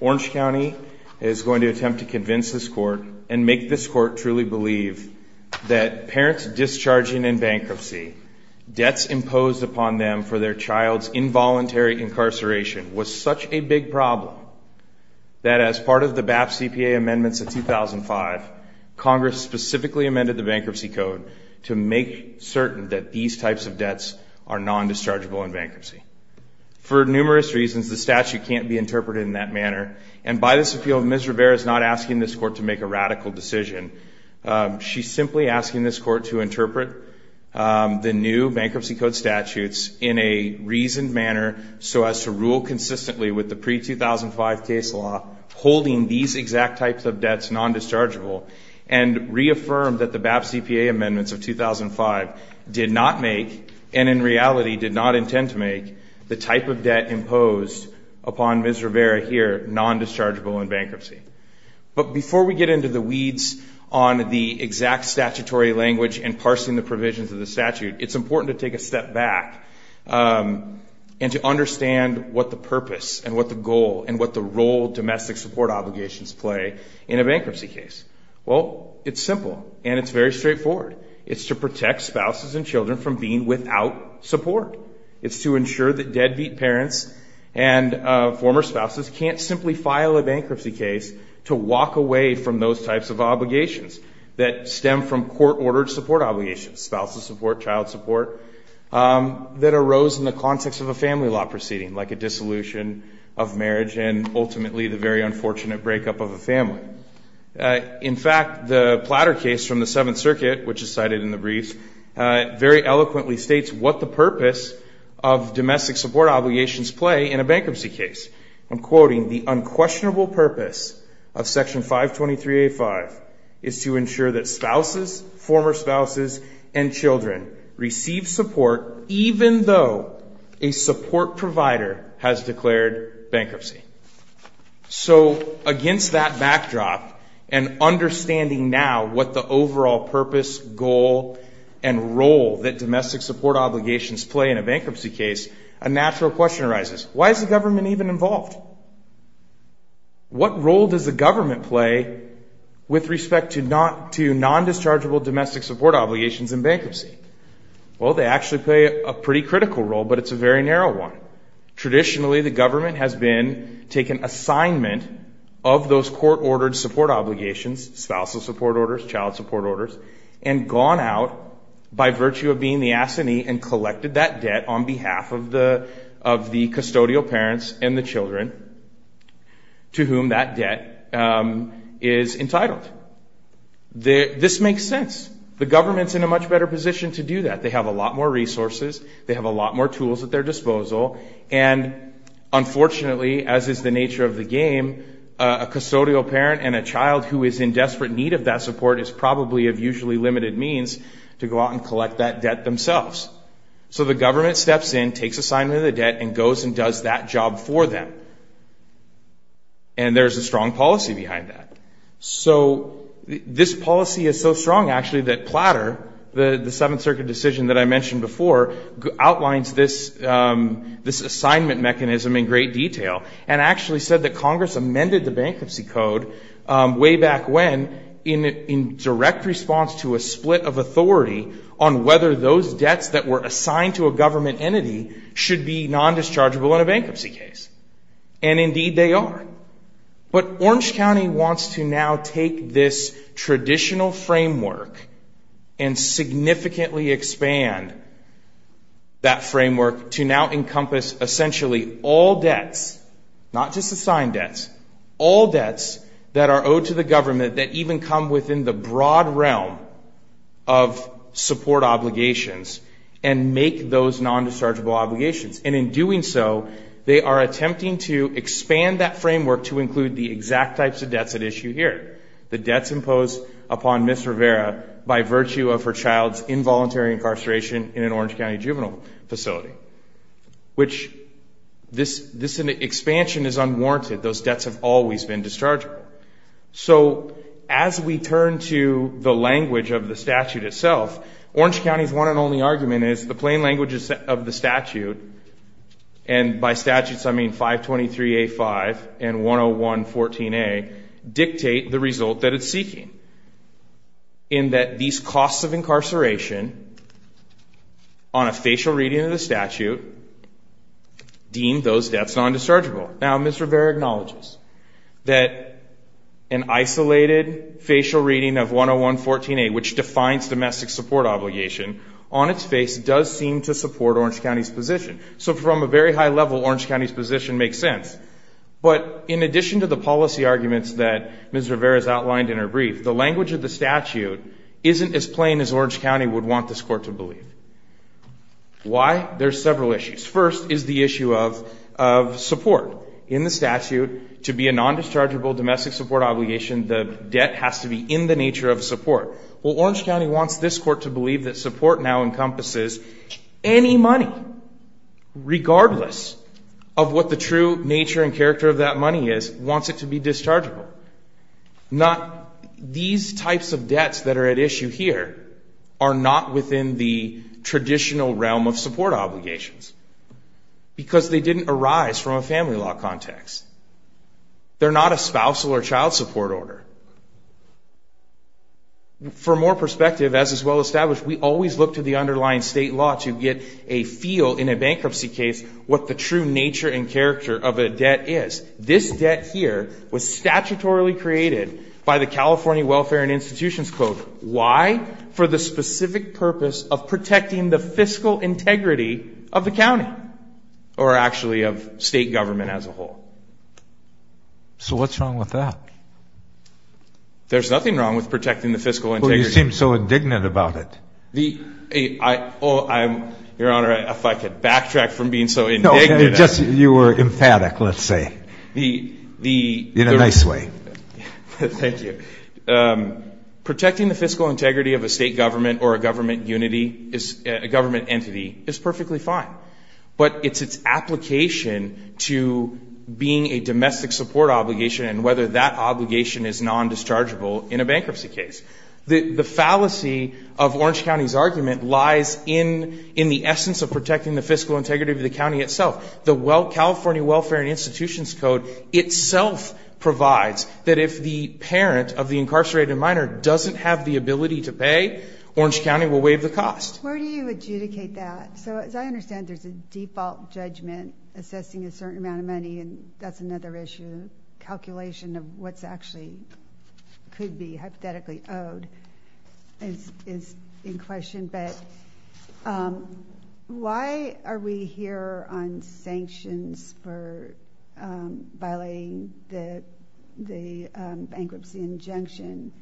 Orange County is going to attempt to convince this court, and make this court truly believe, that parents discharging in bankruptcy, debts imposed upon them for their child's involuntary income, will not be compensated for in the future. Bankruptcy and incarceration was such a big problem, that as part of the BAP CPA amendments of 2005, Congress specifically amended the Bankruptcy Code to make certain that these types of debts are non-dischargeable in bankruptcy. For numerous reasons, the statute can't be interpreted in that manner, and by this appeal, Ms. Rivera is not asking this court to make a radical decision. She's simply asking this court to interpret the new Bankruptcy Code statutes in a reasoned manner, so as to rule consistently with the pre-2005 case law, holding these exact types of debts non-dischargeable, and reaffirm that the BAP CPA amendments of 2005 did not make, and in reality did not intend to make, the type of debt imposed upon Ms. Rivera here, non-dischargeable in bankruptcy. But before we get into the weeds on the exact statutory language and parsing the provisions of the statute, it's important to take a step back, and to understand what the purpose, and what the goal, and what the role domestic support obligations play in a bankruptcy case. Well, it's simple, and it's very straightforward. It's to protect spouses and children from being without support. It's to ensure that deadbeat parents and former spouses can't simply file a bankruptcy case to walk away from those types of obligations that stem from court-ordered support obligations, spousal support, child support, that arose in the context of a family law proceeding, like a dissolution of marriage, and ultimately the very unfortunate breakup of a family. In fact, the Platter case from the Seventh Circuit, which is cited in the brief, very eloquently states what the purpose of domestic support obligations play in a bankruptcy case. I'm quoting, the unquestionable purpose of Section 523A5 is to ensure that spouses, former spouses, and children receive support even though a support provider has declared bankruptcy. So against that backdrop, and understanding now what the overall purpose, goal, and role that domestic support obligations play in a bankruptcy case, a natural question arises. Why is the government even involved? What role does the government play with respect to non-dischargeable domestic support obligations in bankruptcy? Well, they actually play a pretty critical role, but it's a very narrow one. Traditionally, the government has been taking assignment of those court-ordered support obligations, spousal support orders, child support orders, and gone out by virtue of being the assinee and collected that debt on behalf of the custodial parents and the children to whom that debt is entitled. This makes sense. The government's in a much better position to do that. They have a lot more resources. They have a lot more tools at their disposal. And unfortunately, as is the nature of the game, a custodial parent and a child who is in desperate need of that support is probably of usually limited means to go out and collect that debt themselves. So the government steps in, takes assignment of the debt, and goes and does that job for them. And there's a strong policy behind that. So this policy is so strong, actually, that Platter, the Seventh Circuit decision that I mentioned before, outlines this assignment mechanism in great detail and actually said that Congress amended the Bankruptcy Code way back when in direct response to a split of authority on whether those debts that were assigned to a government entity should be non-dischargeable in a bankruptcy case. And indeed, they are. But Orange County wants to now take this traditional framework and significantly expand that framework to now encompass essentially all debts, not just assigned debts, all debts that are owed to the government that even come within the broad realm of support obligations and make those non-dischargeable obligations. And in doing so, they are attempting to expand that framework to include the exact types of debts at issue here, the debts imposed upon Ms. Rivera by virtue of her child's involuntary incarceration in an Orange County juvenile facility, which this expansion is unwarranted. Those debts have always been dischargeable. So as we turn to the language of the statute itself, Orange County's one and only argument is the plain languages of the statute, and by statutes I mean 523A-5 and 101-14A, dictate the result that it's seeking, in that these costs of incarceration on a facial reading of the statute deem those debts non-dischargeable. Now, Ms. Rivera acknowledges that an isolated facial reading of 101-14A, which defines domestic support obligation, on its face does seem to support Orange County's position. So from a very high level, Orange County's position makes sense. But in addition to the policy arguments that Ms. Rivera has outlined in her brief, the language of the statute isn't as plain as Orange County would want this Court to believe. Why? There are several issues. First is the issue of support. In the statute, to be a non-dischargeable domestic support obligation, the debt has to be in the nature of support. Well, Orange County wants this Court to believe that support now encompasses any money, regardless of what the true nature and character of that money is, wants it to be dischargeable. These types of debts that are at issue here are not within the traditional realm of support obligations, because they didn't arise from a family law context. They're not a spousal or child support order. For more perspective, as is well established, we always look to the underlying state law to get a feel, in a bankruptcy case, what the true nature and character of a debt is. This debt here was statutorily created by the California Welfare and Institutions Code. Why? For the specific purpose of protecting the fiscal integrity of the county, or actually of state government as a whole. So what's wrong with that? There's nothing wrong with protecting the fiscal integrity. Well, you seem so indignant about it. Your Honor, if I could backtrack from being so indignant. You were emphatic, let's say, in a nice way. Thank you. Protecting the fiscal integrity of a state government or a government entity is perfectly fine, but it's its application to being a domestic support obligation and whether that obligation is nondischargeable in a bankruptcy case. The fallacy of Orange County's argument lies in the essence of protecting the fiscal integrity of the county itself. The California Welfare and Institutions Code itself provides that if the parent of the incarcerated minor doesn't have the ability to pay, Orange County will waive the cost. Where do you adjudicate that? So as I understand, there's a default judgment assessing a certain amount of money, and that's another issue. Calculation of what actually could be hypothetically owed is in question. But why are we here on sanctions for violating the bankruptcy injunction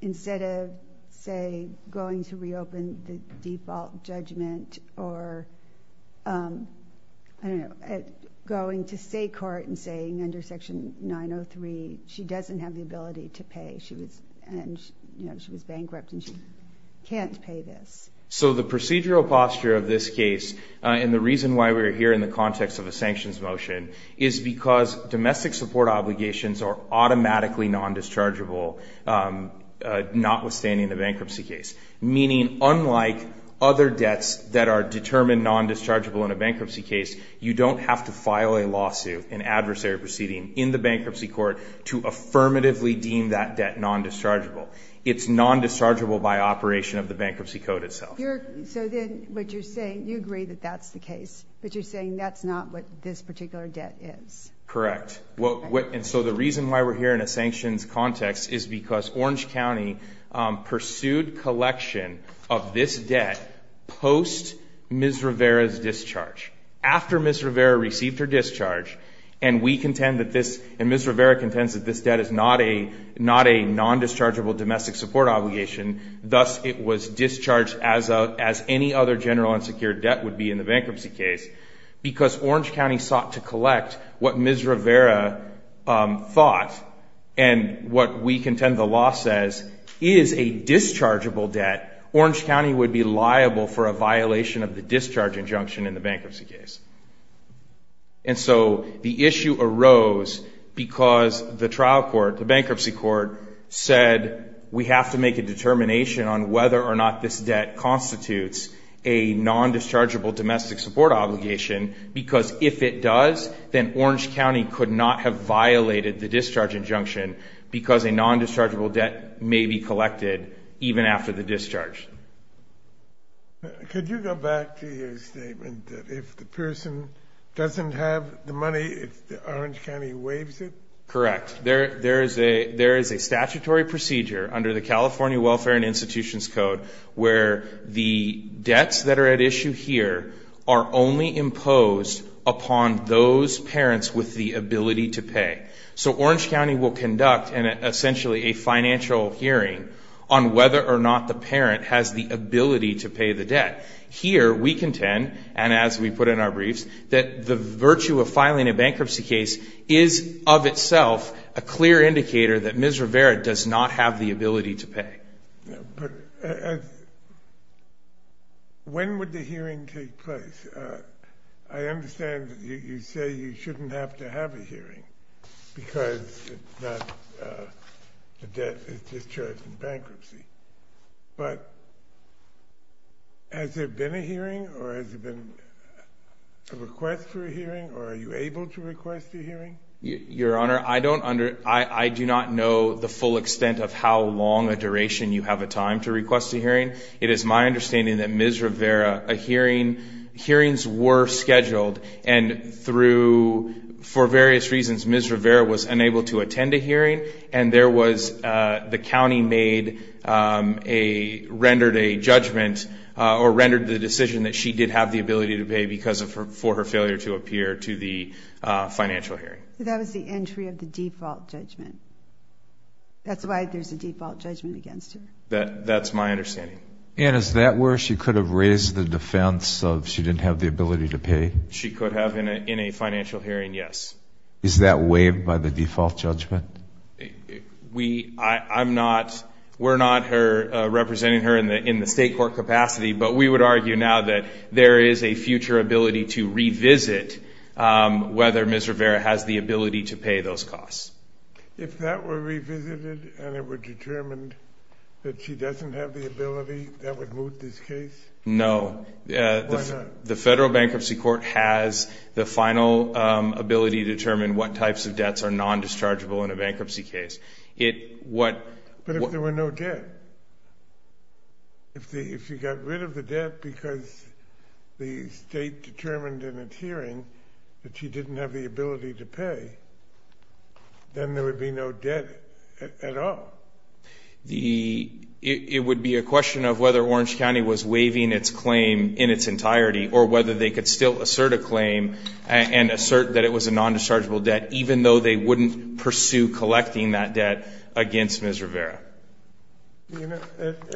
instead of, say, going to reopen the default judgment or going to state court and saying under Section 903 she doesn't have the ability to pay, and she was bankrupt and she can't pay this? So the procedural posture of this case and the reason why we're here in the context of a sanctions motion is because domestic support obligations are automatically nondischargeable notwithstanding the bankruptcy case, meaning unlike other debts that are determined nondischargeable in a bankruptcy case, you don't have to file a lawsuit, an adversary proceeding in the bankruptcy court to affirmatively deem that debt nondischargeable. It's nondischargeable by operation of the bankruptcy code itself. So then what you're saying, you agree that that's the case, but you're saying that's not what this particular debt is. Correct. And so the reason why we're here in a sanctions context is because Orange County pursued collection of this debt post Ms. Rivera's discharge, after Ms. Rivera received her discharge, and Ms. Rivera contends that this debt is not a nondischargeable domestic support obligation, thus it was discharged as any other general unsecured debt would be in the bankruptcy case because Orange County sought to collect what Ms. Rivera thought and what we contend the law says is a dischargeable debt, Orange County would be liable for a violation of the discharge injunction in the bankruptcy case. And so the issue arose because the trial court, the bankruptcy court, said we have to make a determination on whether or not this debt constitutes a nondischargeable domestic support obligation because if it does, then Orange County could not have violated the discharge injunction because a nondischargeable debt may be collected even after the discharge. Could you go back to your statement that if the person doesn't have the money, Orange County waives it? Correct. There is a statutory procedure under the California Welfare and Institutions Code where the debts that are at issue here are only imposed upon those parents with the ability to pay. So Orange County will conduct essentially a financial hearing on whether or not the parent has the ability to pay the debt. Here we contend, and as we put in our briefs, that the virtue of filing a bankruptcy case is of itself a clear indicator But when would the hearing take place? I understand you say you shouldn't have to have a hearing because the debt is discharged in bankruptcy. But has there been a hearing or has there been a request for a hearing or are you able to request a hearing? Your Honor, I do not know the full extent of how long a duration you have a time to request a hearing. It is my understanding that Ms. Rivera, hearings were scheduled and for various reasons Ms. Rivera was unable to attend a hearing and the county rendered a judgment or rendered the decision that she did have the ability to pay because for her failure to appear to the financial hearing. That was the entry of the default judgment. That's why there's a default judgment against her. That's my understanding. And is that where she could have raised the defense of she didn't have the ability to pay? She could have in a financial hearing, yes. Is that waived by the default judgment? We're not representing her in the state court capacity, but we would argue now that there is a future ability to revisit whether Ms. Rivera has the ability to pay those costs. If that were revisited and it were determined that she doesn't have the ability, that would move this case? No. Why not? The federal bankruptcy court has the final ability to determine what types of debts are non-dischargeable in a bankruptcy case. But if there were no debt? If she got rid of the debt because the state determined in its hearing that she didn't have the ability to pay, then there would be no debt at all. It would be a question of whether Orange County was waiving its claim in its entirety or whether they could still assert a claim and assert that it was a non-dischargeable debt even though they wouldn't pursue collecting that debt against Ms. Rivera. It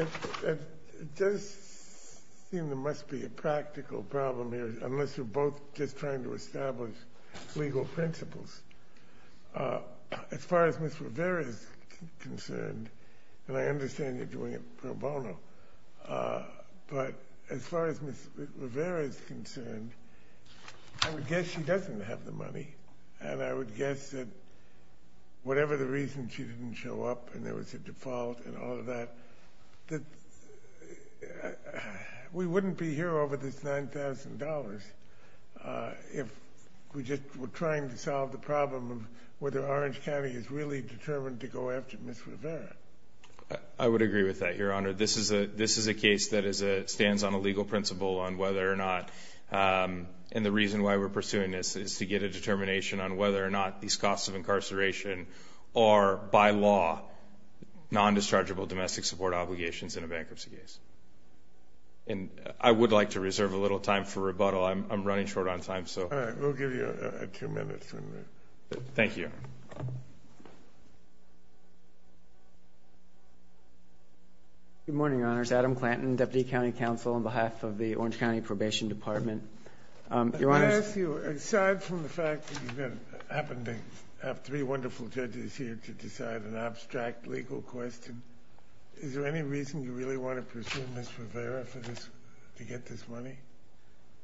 does seem there must be a practical problem here unless you're both just trying to establish legal principles. As far as Ms. Rivera is concerned, and I understand you're doing it pro bono, but as far as Ms. Rivera is concerned, I would guess she doesn't have the money, and I would guess that whatever the reason she didn't show up and there was a default and all of that, we wouldn't be here over this $9,000 if we just were trying to solve the problem of whether Orange County is really determined to go after Ms. Rivera. I would agree with that, Your Honor. This is a case that stands on a legal principle on whether or not, and the reason why we're pursuing this is to get a determination on whether or not these costs of incarceration are, by law, non-dischargeable domestic support obligations in a bankruptcy case. I would like to reserve a little time for rebuttal. I'm running short on time. All right. We'll give you a few minutes. Thank you. Good morning, Your Honors. My name is Adam Clanton, Deputy County Counsel, on behalf of the Orange County Probation Department. I want to ask you, aside from the fact that you happen to have three wonderful judges here to decide an abstract legal question, is there any reason you really want to pursue Ms. Rivera to get this money?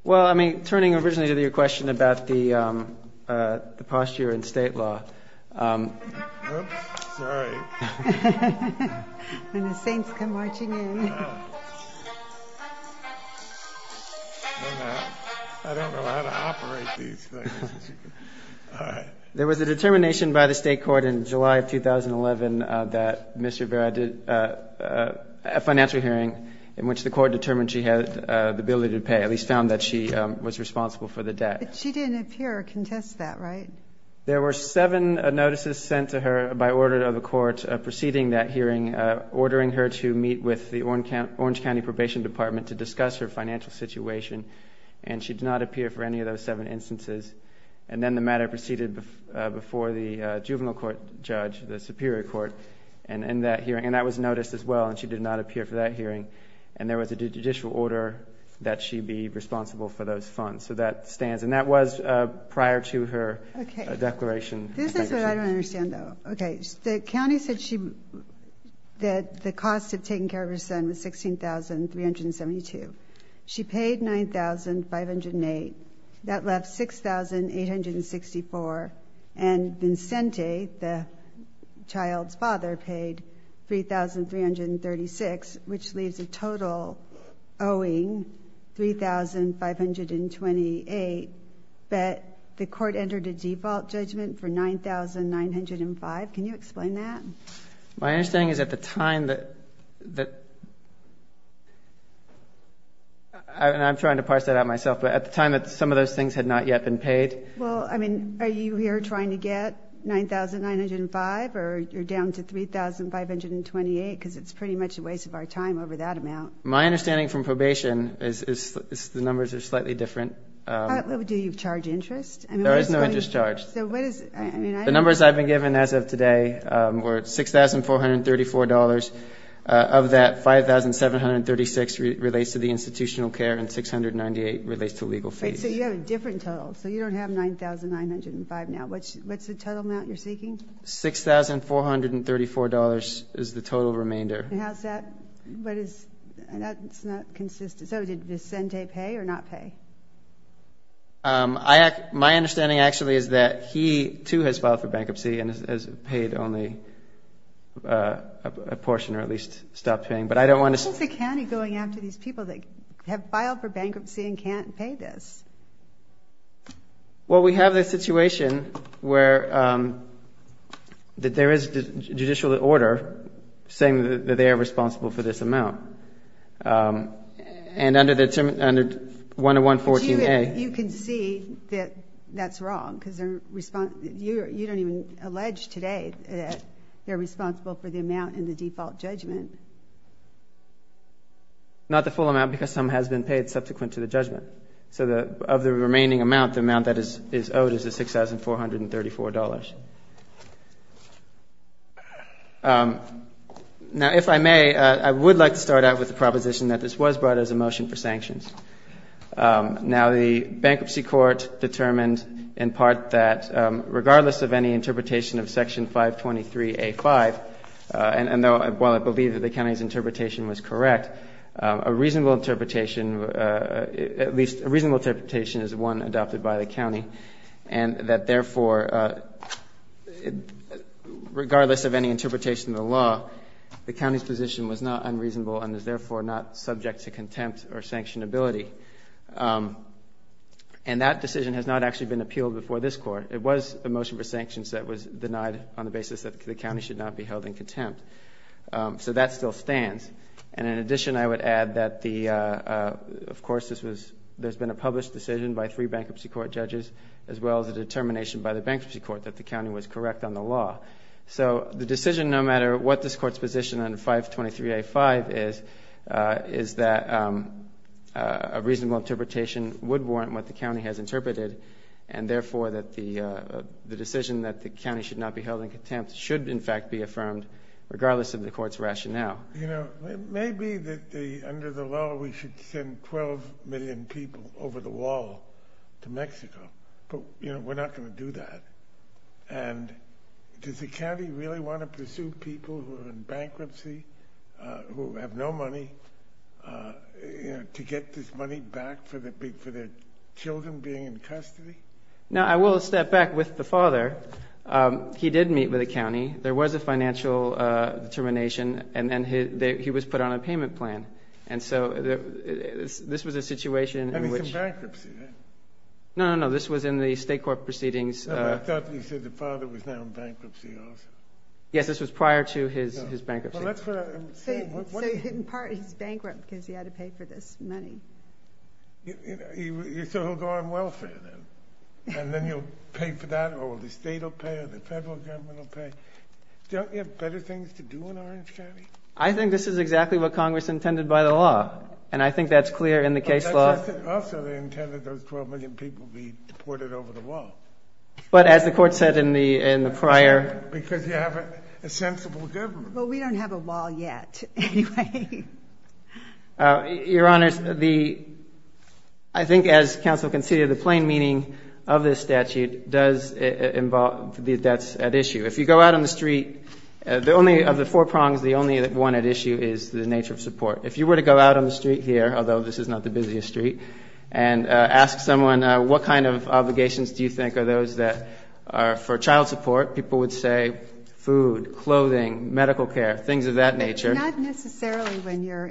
Well, I mean, turning originally to your question about the posture in state law. Oops, sorry. When the saints come marching in. I don't know how to operate these things. All right. There was a determination by the state court in July of 2011 that Ms. Rivera did a financial hearing in which the court determined she had the ability to pay, at least found that she was responsible for the debt. But she didn't appear or contest that, right? There were seven notices sent to her by order of the court preceding that hearing, ordering her to meet with the Orange County Probation Department to discuss her financial situation, and she did not appear for any of those seven instances. And then the matter proceeded before the juvenile court judge, the Superior Court, and that hearing, and that was noticed as well, and she did not appear for that hearing. And there was a judicial order that she be responsible for those funds. So that stands. And that was prior to her declaration. This is what I don't understand, though. Okay. The county said that the cost of taking care of her son was $16,372. She paid $9,508. That left $6,864. And Vincente, the child's father, paid $3,336, which leaves a total owing $3,528. But the court entered a default judgment for $9,905. Can you explain that? My understanding is at the time that the – and I'm trying to parse that out myself, but at the time that some of those things had not yet been paid. Well, I mean, are you here trying to get $9,905 or you're down to $3,528 because it's pretty much a waste of our time over that amount? My understanding from probation is the numbers are slightly different. Do you charge interest? There is no interest charge. So what is it? The numbers I've been given as of today were $6,434. Of that, $5,736 relates to the institutional care and $698 relates to legal fees. So you have a different total. So you don't have $9,905 now. What's the total amount you're seeking? $6,434 is the total remainder. How's that? That's not consistent. So did Vincente pay or not pay? My understanding actually is that he, too, has filed for bankruptcy and has paid only a portion or at least stopped paying. What is the county going after these people that have filed for bankruptcy and can't pay this? Well, we have this situation where there is judicial order saying that they are responsible for this amount. And under 101-14-A. But you can see that that's wrong because you don't even allege today that they're responsible for the amount in the default judgment. Not the full amount because some has been paid subsequent to the judgment. So of the remaining amount, the amount that is owed is $6,434. Now, if I may, I would like to start out with the proposition that this was brought as a motion for sanctions. Now, the bankruptcy court determined in part that regardless of any interpretation of Section 523-A.5, and while I believe that the county's interpretation was correct, a reasonable interpretation is one adopted by the county, and that, therefore, regardless of any interpretation of the law, the county's position was not unreasonable and is, therefore, not subject to contempt or sanctionability. And that decision has not actually been appealed before this Court. It was a motion for sanctions that was denied on the basis that the county should not be held in contempt. So that still stands. And in addition, I would add that, of course, there's been a published decision by three bankruptcy court judges as well as a determination by the bankruptcy court that the county was correct on the law. So the decision, no matter what this Court's position on 523-A.5 is, is that a reasonable interpretation would warrant what the county has interpreted, and, therefore, that the decision that the county should not be held in contempt should, in fact, be affirmed, regardless of the Court's rationale. You know, it may be that under the law we should send 12 million people over the wall to Mexico, but, you know, we're not going to do that. And does the county really want to pursue people who are in bankruptcy, who have no money, you know, to get this money back for their children being in custody? Now, I will step back with the father. He did meet with the county. There was a financial determination, and then he was put on a payment plan. And so this was a situation in which... And he's in bankruptcy, then? No, no, no. This was in the state court proceedings. I thought you said the father was now in bankruptcy also. Yes, this was prior to his bankruptcy. Well, that's what I'm saying. In part, he's bankrupt because he had to pay for this money. So he'll go on welfare, then, and then he'll pay for that, or the state will pay or the federal government will pay. Don't you have better things to do in Orange County? I think this is exactly what Congress intended by the law, and I think that's clear in the case law. Also, they intended those 12 million people be deported over the wall. But as the court said in the prior... Because you have a sensible government. Well, we don't have a wall yet, anyway. Your Honors, I think as counsel conceded, the plain meaning of this statute does involve the debts at issue. If you go out on the street, of the four prongs, the only one at issue is the nature of support. If you were to go out on the street here, although this is not the busiest street, and ask someone what kind of obligations do you think are those that are for child support, people would say food, clothing, medical care, things of that nature. Not necessarily when you're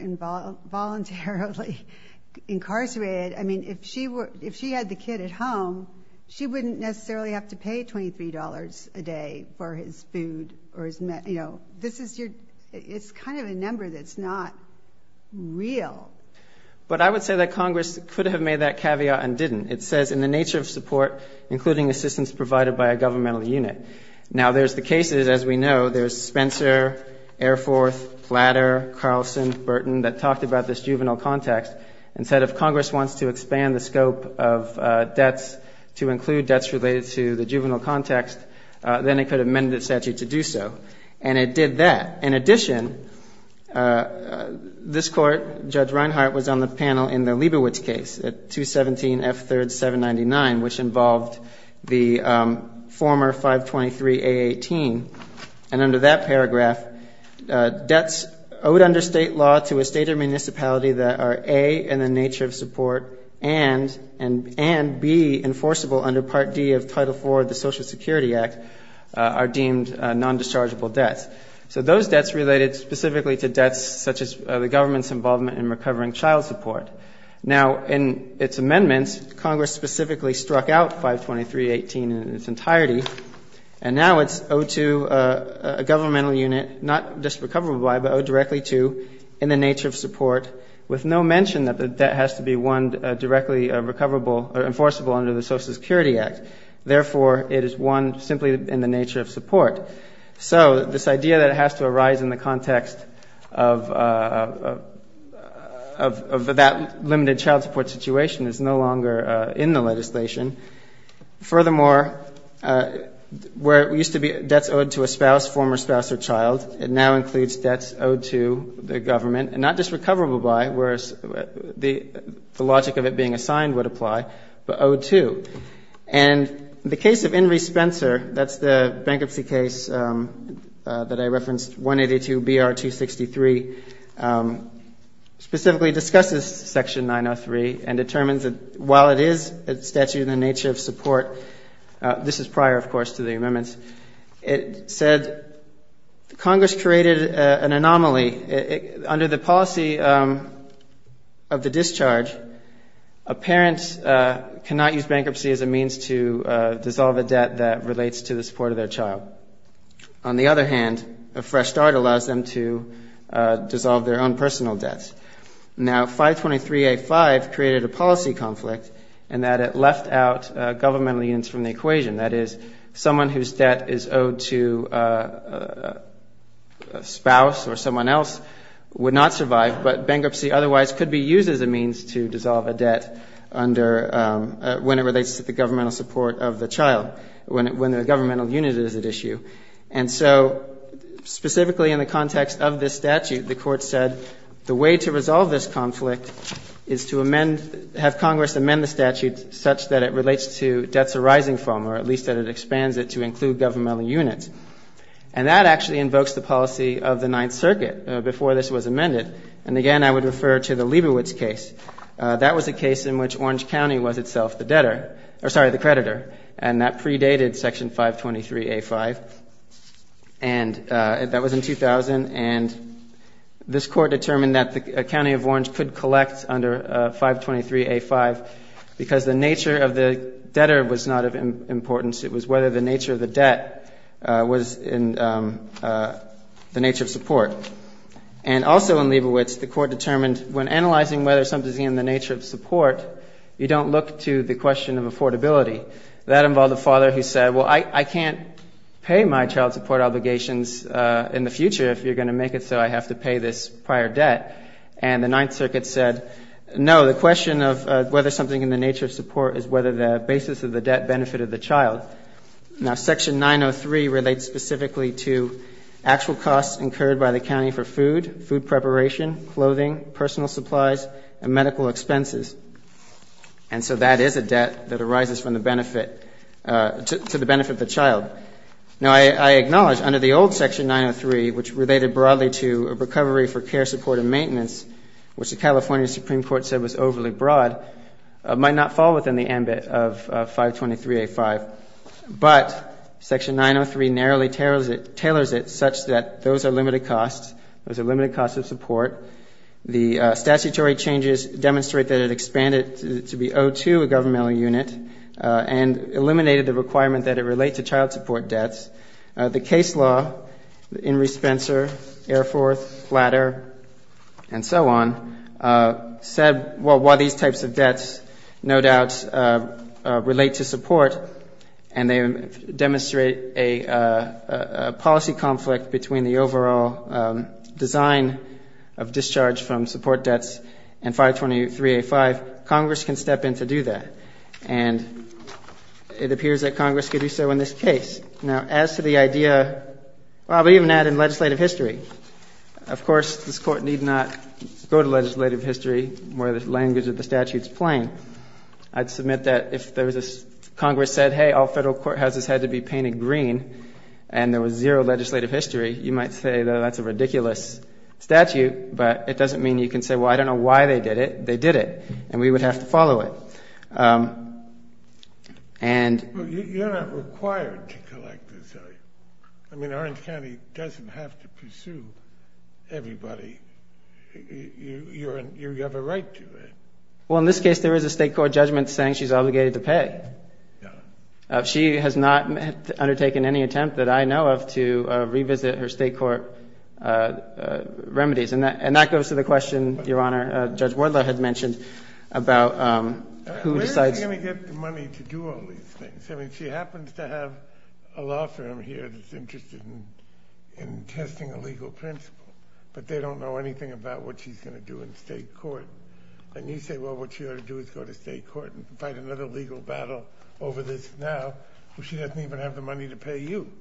voluntarily incarcerated. I mean, if she had the kid at home, she wouldn't necessarily have to pay $23 a day for his food or his medicine. It's kind of a number that's not real. But I would say that Congress could have made that caveat and didn't. It says in the nature of support, including assistance provided by a governmental unit. Now, there's the cases, as we know. There's Spencer, Air Force, Platter, Carlson, Burton that talked about this juvenile context and said if Congress wants to expand the scope of debts to include debts related to the juvenile context, then it could have amended the statute to do so. And it did that. In addition, this Court, Judge Reinhart, was on the panel in the Liebowitz case at 217 F. 3rd, 799, which involved the former 523 A18. And under that paragraph, debts owed under state law to a state or municipality that are, A, in the nature of support and, B, enforceable under Part D of Title IV of the Social Security Act, are deemed nondischargeable debts. So those debts related specifically to debts such as the government's involvement in recovering child support. Now, in its amendments, Congress specifically struck out 523 A18 in its entirety. And now it's owed to a governmental unit, not just recoverable by, but owed directly to, in the nature of support, with no mention that the debt has to be one directly recoverable or enforceable under the Social Security Act. Therefore, it is one simply in the nature of support. So this idea that it has to arise in the context of that limited child support situation is no longer in the legislation. Furthermore, where it used to be debts owed to a spouse, former spouse or child, it now includes debts owed to the government, and not just recoverable by, whereas the logic of it being assigned would apply, but owed to. And the case of Inree Spencer, that's the bankruptcy case that I referenced, 182 BR 263, specifically discusses Section 903 and determines that while it is a statute in the nature of support, this is prior, of course, to the amendments, it said Congress created an anomaly. Under the policy of the discharge, a parent cannot use bankruptcy as a means to dissolve a debt that relates to the support of their child. On the other hand, a fresh start allows them to dissolve their own personal debts. Now, 523A5 created a policy conflict in that it left out governmental units from the equation. That is, someone whose debt is owed to a spouse or someone else would not survive, but bankruptcy otherwise could be used as a means to dissolve a debt under, when it relates to the governmental support of the child, when the governmental unit is at issue. And so specifically in the context of this statute, the Court said the way to resolve this conflict is to amend, have Congress amend the statute such that it relates to debts arising from, or at least that it expands it to include governmental units. And that actually invokes the policy of the Ninth Circuit before this was amended. And again, I would refer to the Lieberwitz case. That was a case in which Orange County was itself the debtor, or sorry, the creditor, and that predated Section 523A5, and that was in 2000. And this Court determined that the County of Orange could collect under 523A5 because the nature of the debtor was not of importance. It was whether the nature of the debt was in the nature of support. And also in Lieberwitz, the Court determined when analyzing whether something is in the nature of support, you don't look to the question of affordability. That involved a father who said, well, I can't pay my child support obligations in the future if you're going to make it so I have to pay this prior debt. And the Ninth Circuit said, no, the question of whether something in the nature of support is whether the basis of the debt benefited the child. Now, Section 903 relates specifically to actual costs incurred by the county for food, food preparation, clothing, personal supplies, and medical expenses. And so that is a debt that arises from the benefit, to the benefit of the child. Now, I acknowledge under the old Section 903, which related broadly to a recovery for care, support, and maintenance, which the California Supreme Court said was overly broad, might not fall within the ambit of 523A5. But Section 903 narrowly tailors it such that those are limited costs, those are limited costs of support. The statutory changes demonstrate that it expanded to be O2, a governmental unit, and eliminated the requirement that it relate to child support debts. The case law, Henry Spencer, Air Force, Flatter, and so on, said, well, why these types of debts no doubt relate to support, and they demonstrate a policy conflict between the overall design of discharge from support debts and 523A5. Congress can step in to do that. And it appears that Congress could do so in this case. Now, as to the idea of even adding legislative history, of course, this Court need not go to legislative history where the language of the statute is plain. I'd submit that if Congress said, hey, all federal courthouses had to be painted green and there was zero legislative history, you might say, well, that's a ridiculous statute. But it doesn't mean you can say, well, I don't know why they did it. They did it, and we would have to follow it. You're not required to collect this. I mean, Orange County doesn't have to pursue everybody. You have a right to it. Well, in this case, there is a state court judgment saying she's obligated to pay. She has not undertaken any attempt that I know of to revisit her state court remedies. And that goes to the question, Your Honor, Judge Wardlaw had mentioned about who decides. Where is she going to get the money to do all these things? I mean, she happens to have a law firm here that's interested in testing a legal principle, but they don't know anything about what she's going to do in state court. And you say, well, what she ought to do is go to state court and fight another legal battle over this now. Well, she doesn't even have the money to pay you.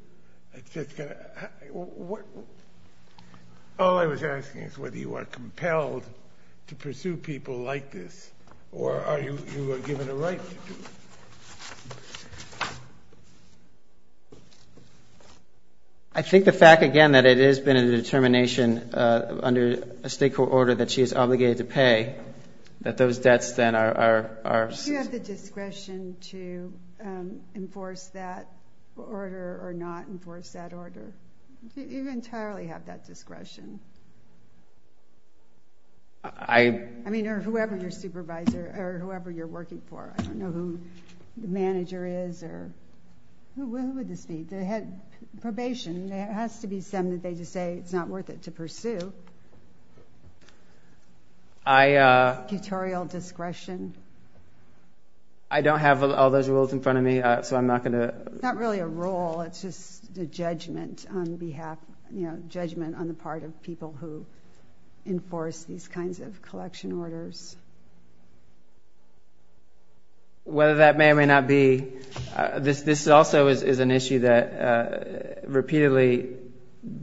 It's just going to – all I was asking is whether you are compelled to pursue people like this or are you given a right to do it? I think the fact, again, that it has been a determination under a state court order that she is obligated to pay, that those debts then are – Do you have the discretion to enforce that order or not enforce that order? Do you entirely have that discretion? I – I mean, or whoever your supervisor or whoever you're working for. I don't know who the manager is or – who would this be? They had probation. There has to be some that they just say it's not worth it to pursue. I – Tutorial discretion. I don't have all those rules in front of me, so I'm not going to – It's not really a rule. It's just a judgment on behalf – judgment on the part of people who enforce these kinds of collection orders. Whether that may or may not be – this also is an issue that repeatedly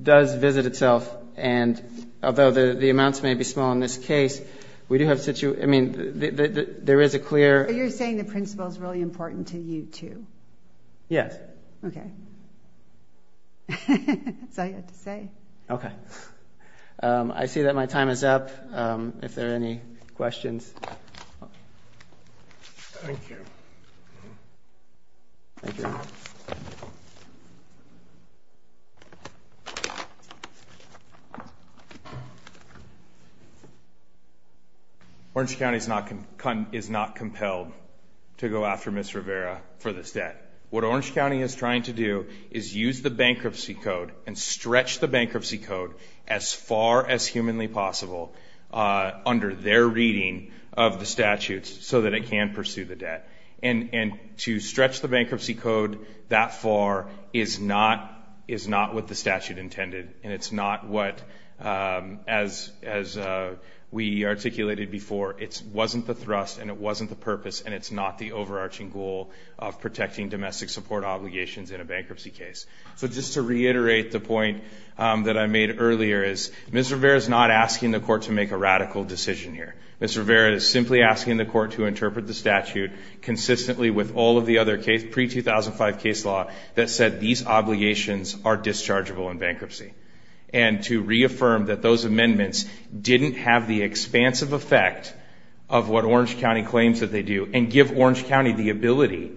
does visit itself, and although the amounts may be small in this case, we do have – I mean, there is a clear – But you're saying the principle is really important to you too? Yes. Okay. Okay. That's all you had to say. Okay. I see that my time is up. If there are any questions – Thank you. Thank you. Orange County is not compelled to go after Ms. Rivera for this debt. What Orange County is trying to do is use the bankruptcy code and stretch the bankruptcy code as far as humanly possible under their reading of the statutes so that it can pursue the debt. And to stretch the bankruptcy code that far is not what the statute intended, and it's not what – as we articulated before, it wasn't the thrust and it wasn't the purpose, and it's not the overarching goal of protecting domestic support obligations in a bankruptcy case. So just to reiterate the point that I made earlier is Ms. Rivera is not asking the court to make a radical decision here. Ms. Rivera is simply asking the court to interpret the statute consistently with all of the other pre-2005 case law that said these obligations are dischargeable in bankruptcy, and to reaffirm that those amendments didn't have the expansive effect of what Orange County claims that they do and give Orange County the ability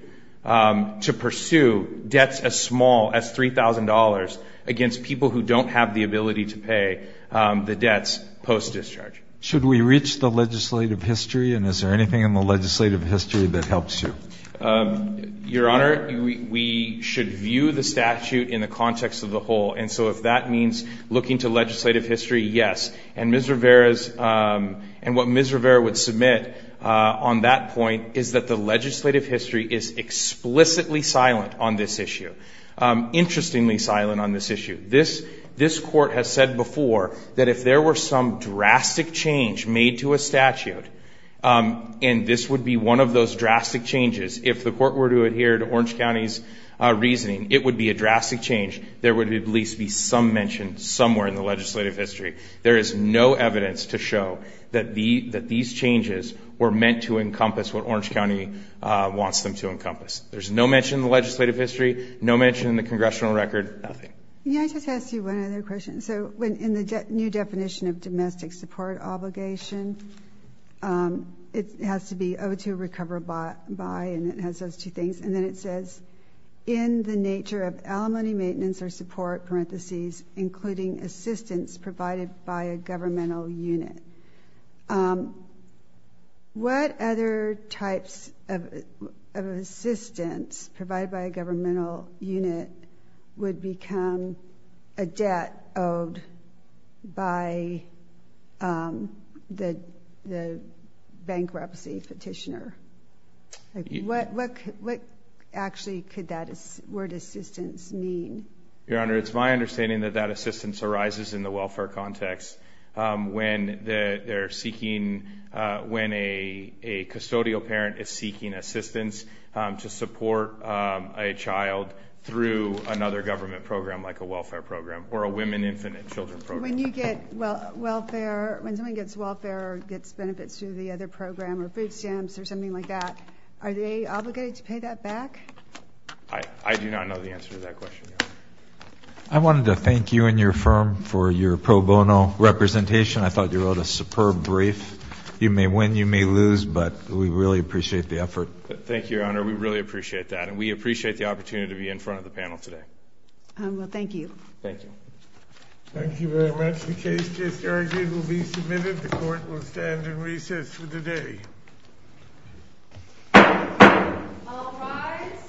to pursue debts as small as $3,000 against people who don't have the ability to pay the debts post-discharge. Should we reach the legislative history, and is there anything in the legislative history that helps you? Your Honor, we should view the statute in the context of the whole. And so if that means looking to legislative history, yes. And Ms. Rivera's – and what Ms. Rivera would submit on that point is that the legislative history is explicitly silent on this issue, interestingly silent on this issue. This court has said before that if there were some drastic change made to a statute, and this would be one of those drastic changes, if the court were to adhere to Orange County's reasoning, it would be a drastic change, there would at least be some mention somewhere in the legislative history. There is no evidence to show that these changes were meant to encompass what Orange County wants them to encompass. There's no mention in the legislative history, no mention in the congressional record, nothing. May I just ask you one other question? So in the new definition of domestic support obligation, it has to be owed to recover by, and it has those two things. And then it says, in the nature of alimony maintenance or support, parentheses, including assistance provided by a governmental unit. What other types of assistance provided by a governmental unit would become a debt owed by the bankruptcy petitioner? What actually could that word assistance mean? Your Honor, it's my understanding that that assistance arises in the welfare context when they're seeking, when a custodial parent is seeking assistance to support a child through another government program, like a welfare program or a women infinite children program. When you get welfare, when someone gets welfare or gets benefits through the other program or food stamps or something like that, are they obligated to pay that back? I do not know the answer to that question, Your Honor. I wanted to thank you and your firm for your pro bono representation. I thought you wrote a superb brief. You may win, you may lose, but we really appreciate the effort. Thank you, Your Honor. We really appreciate that, and we appreciate the opportunity to be in front of the panel today. Well, thank you. Thank you. Thank you very much. The case just argued will be submitted. The court will stand in recess for the day. All rise.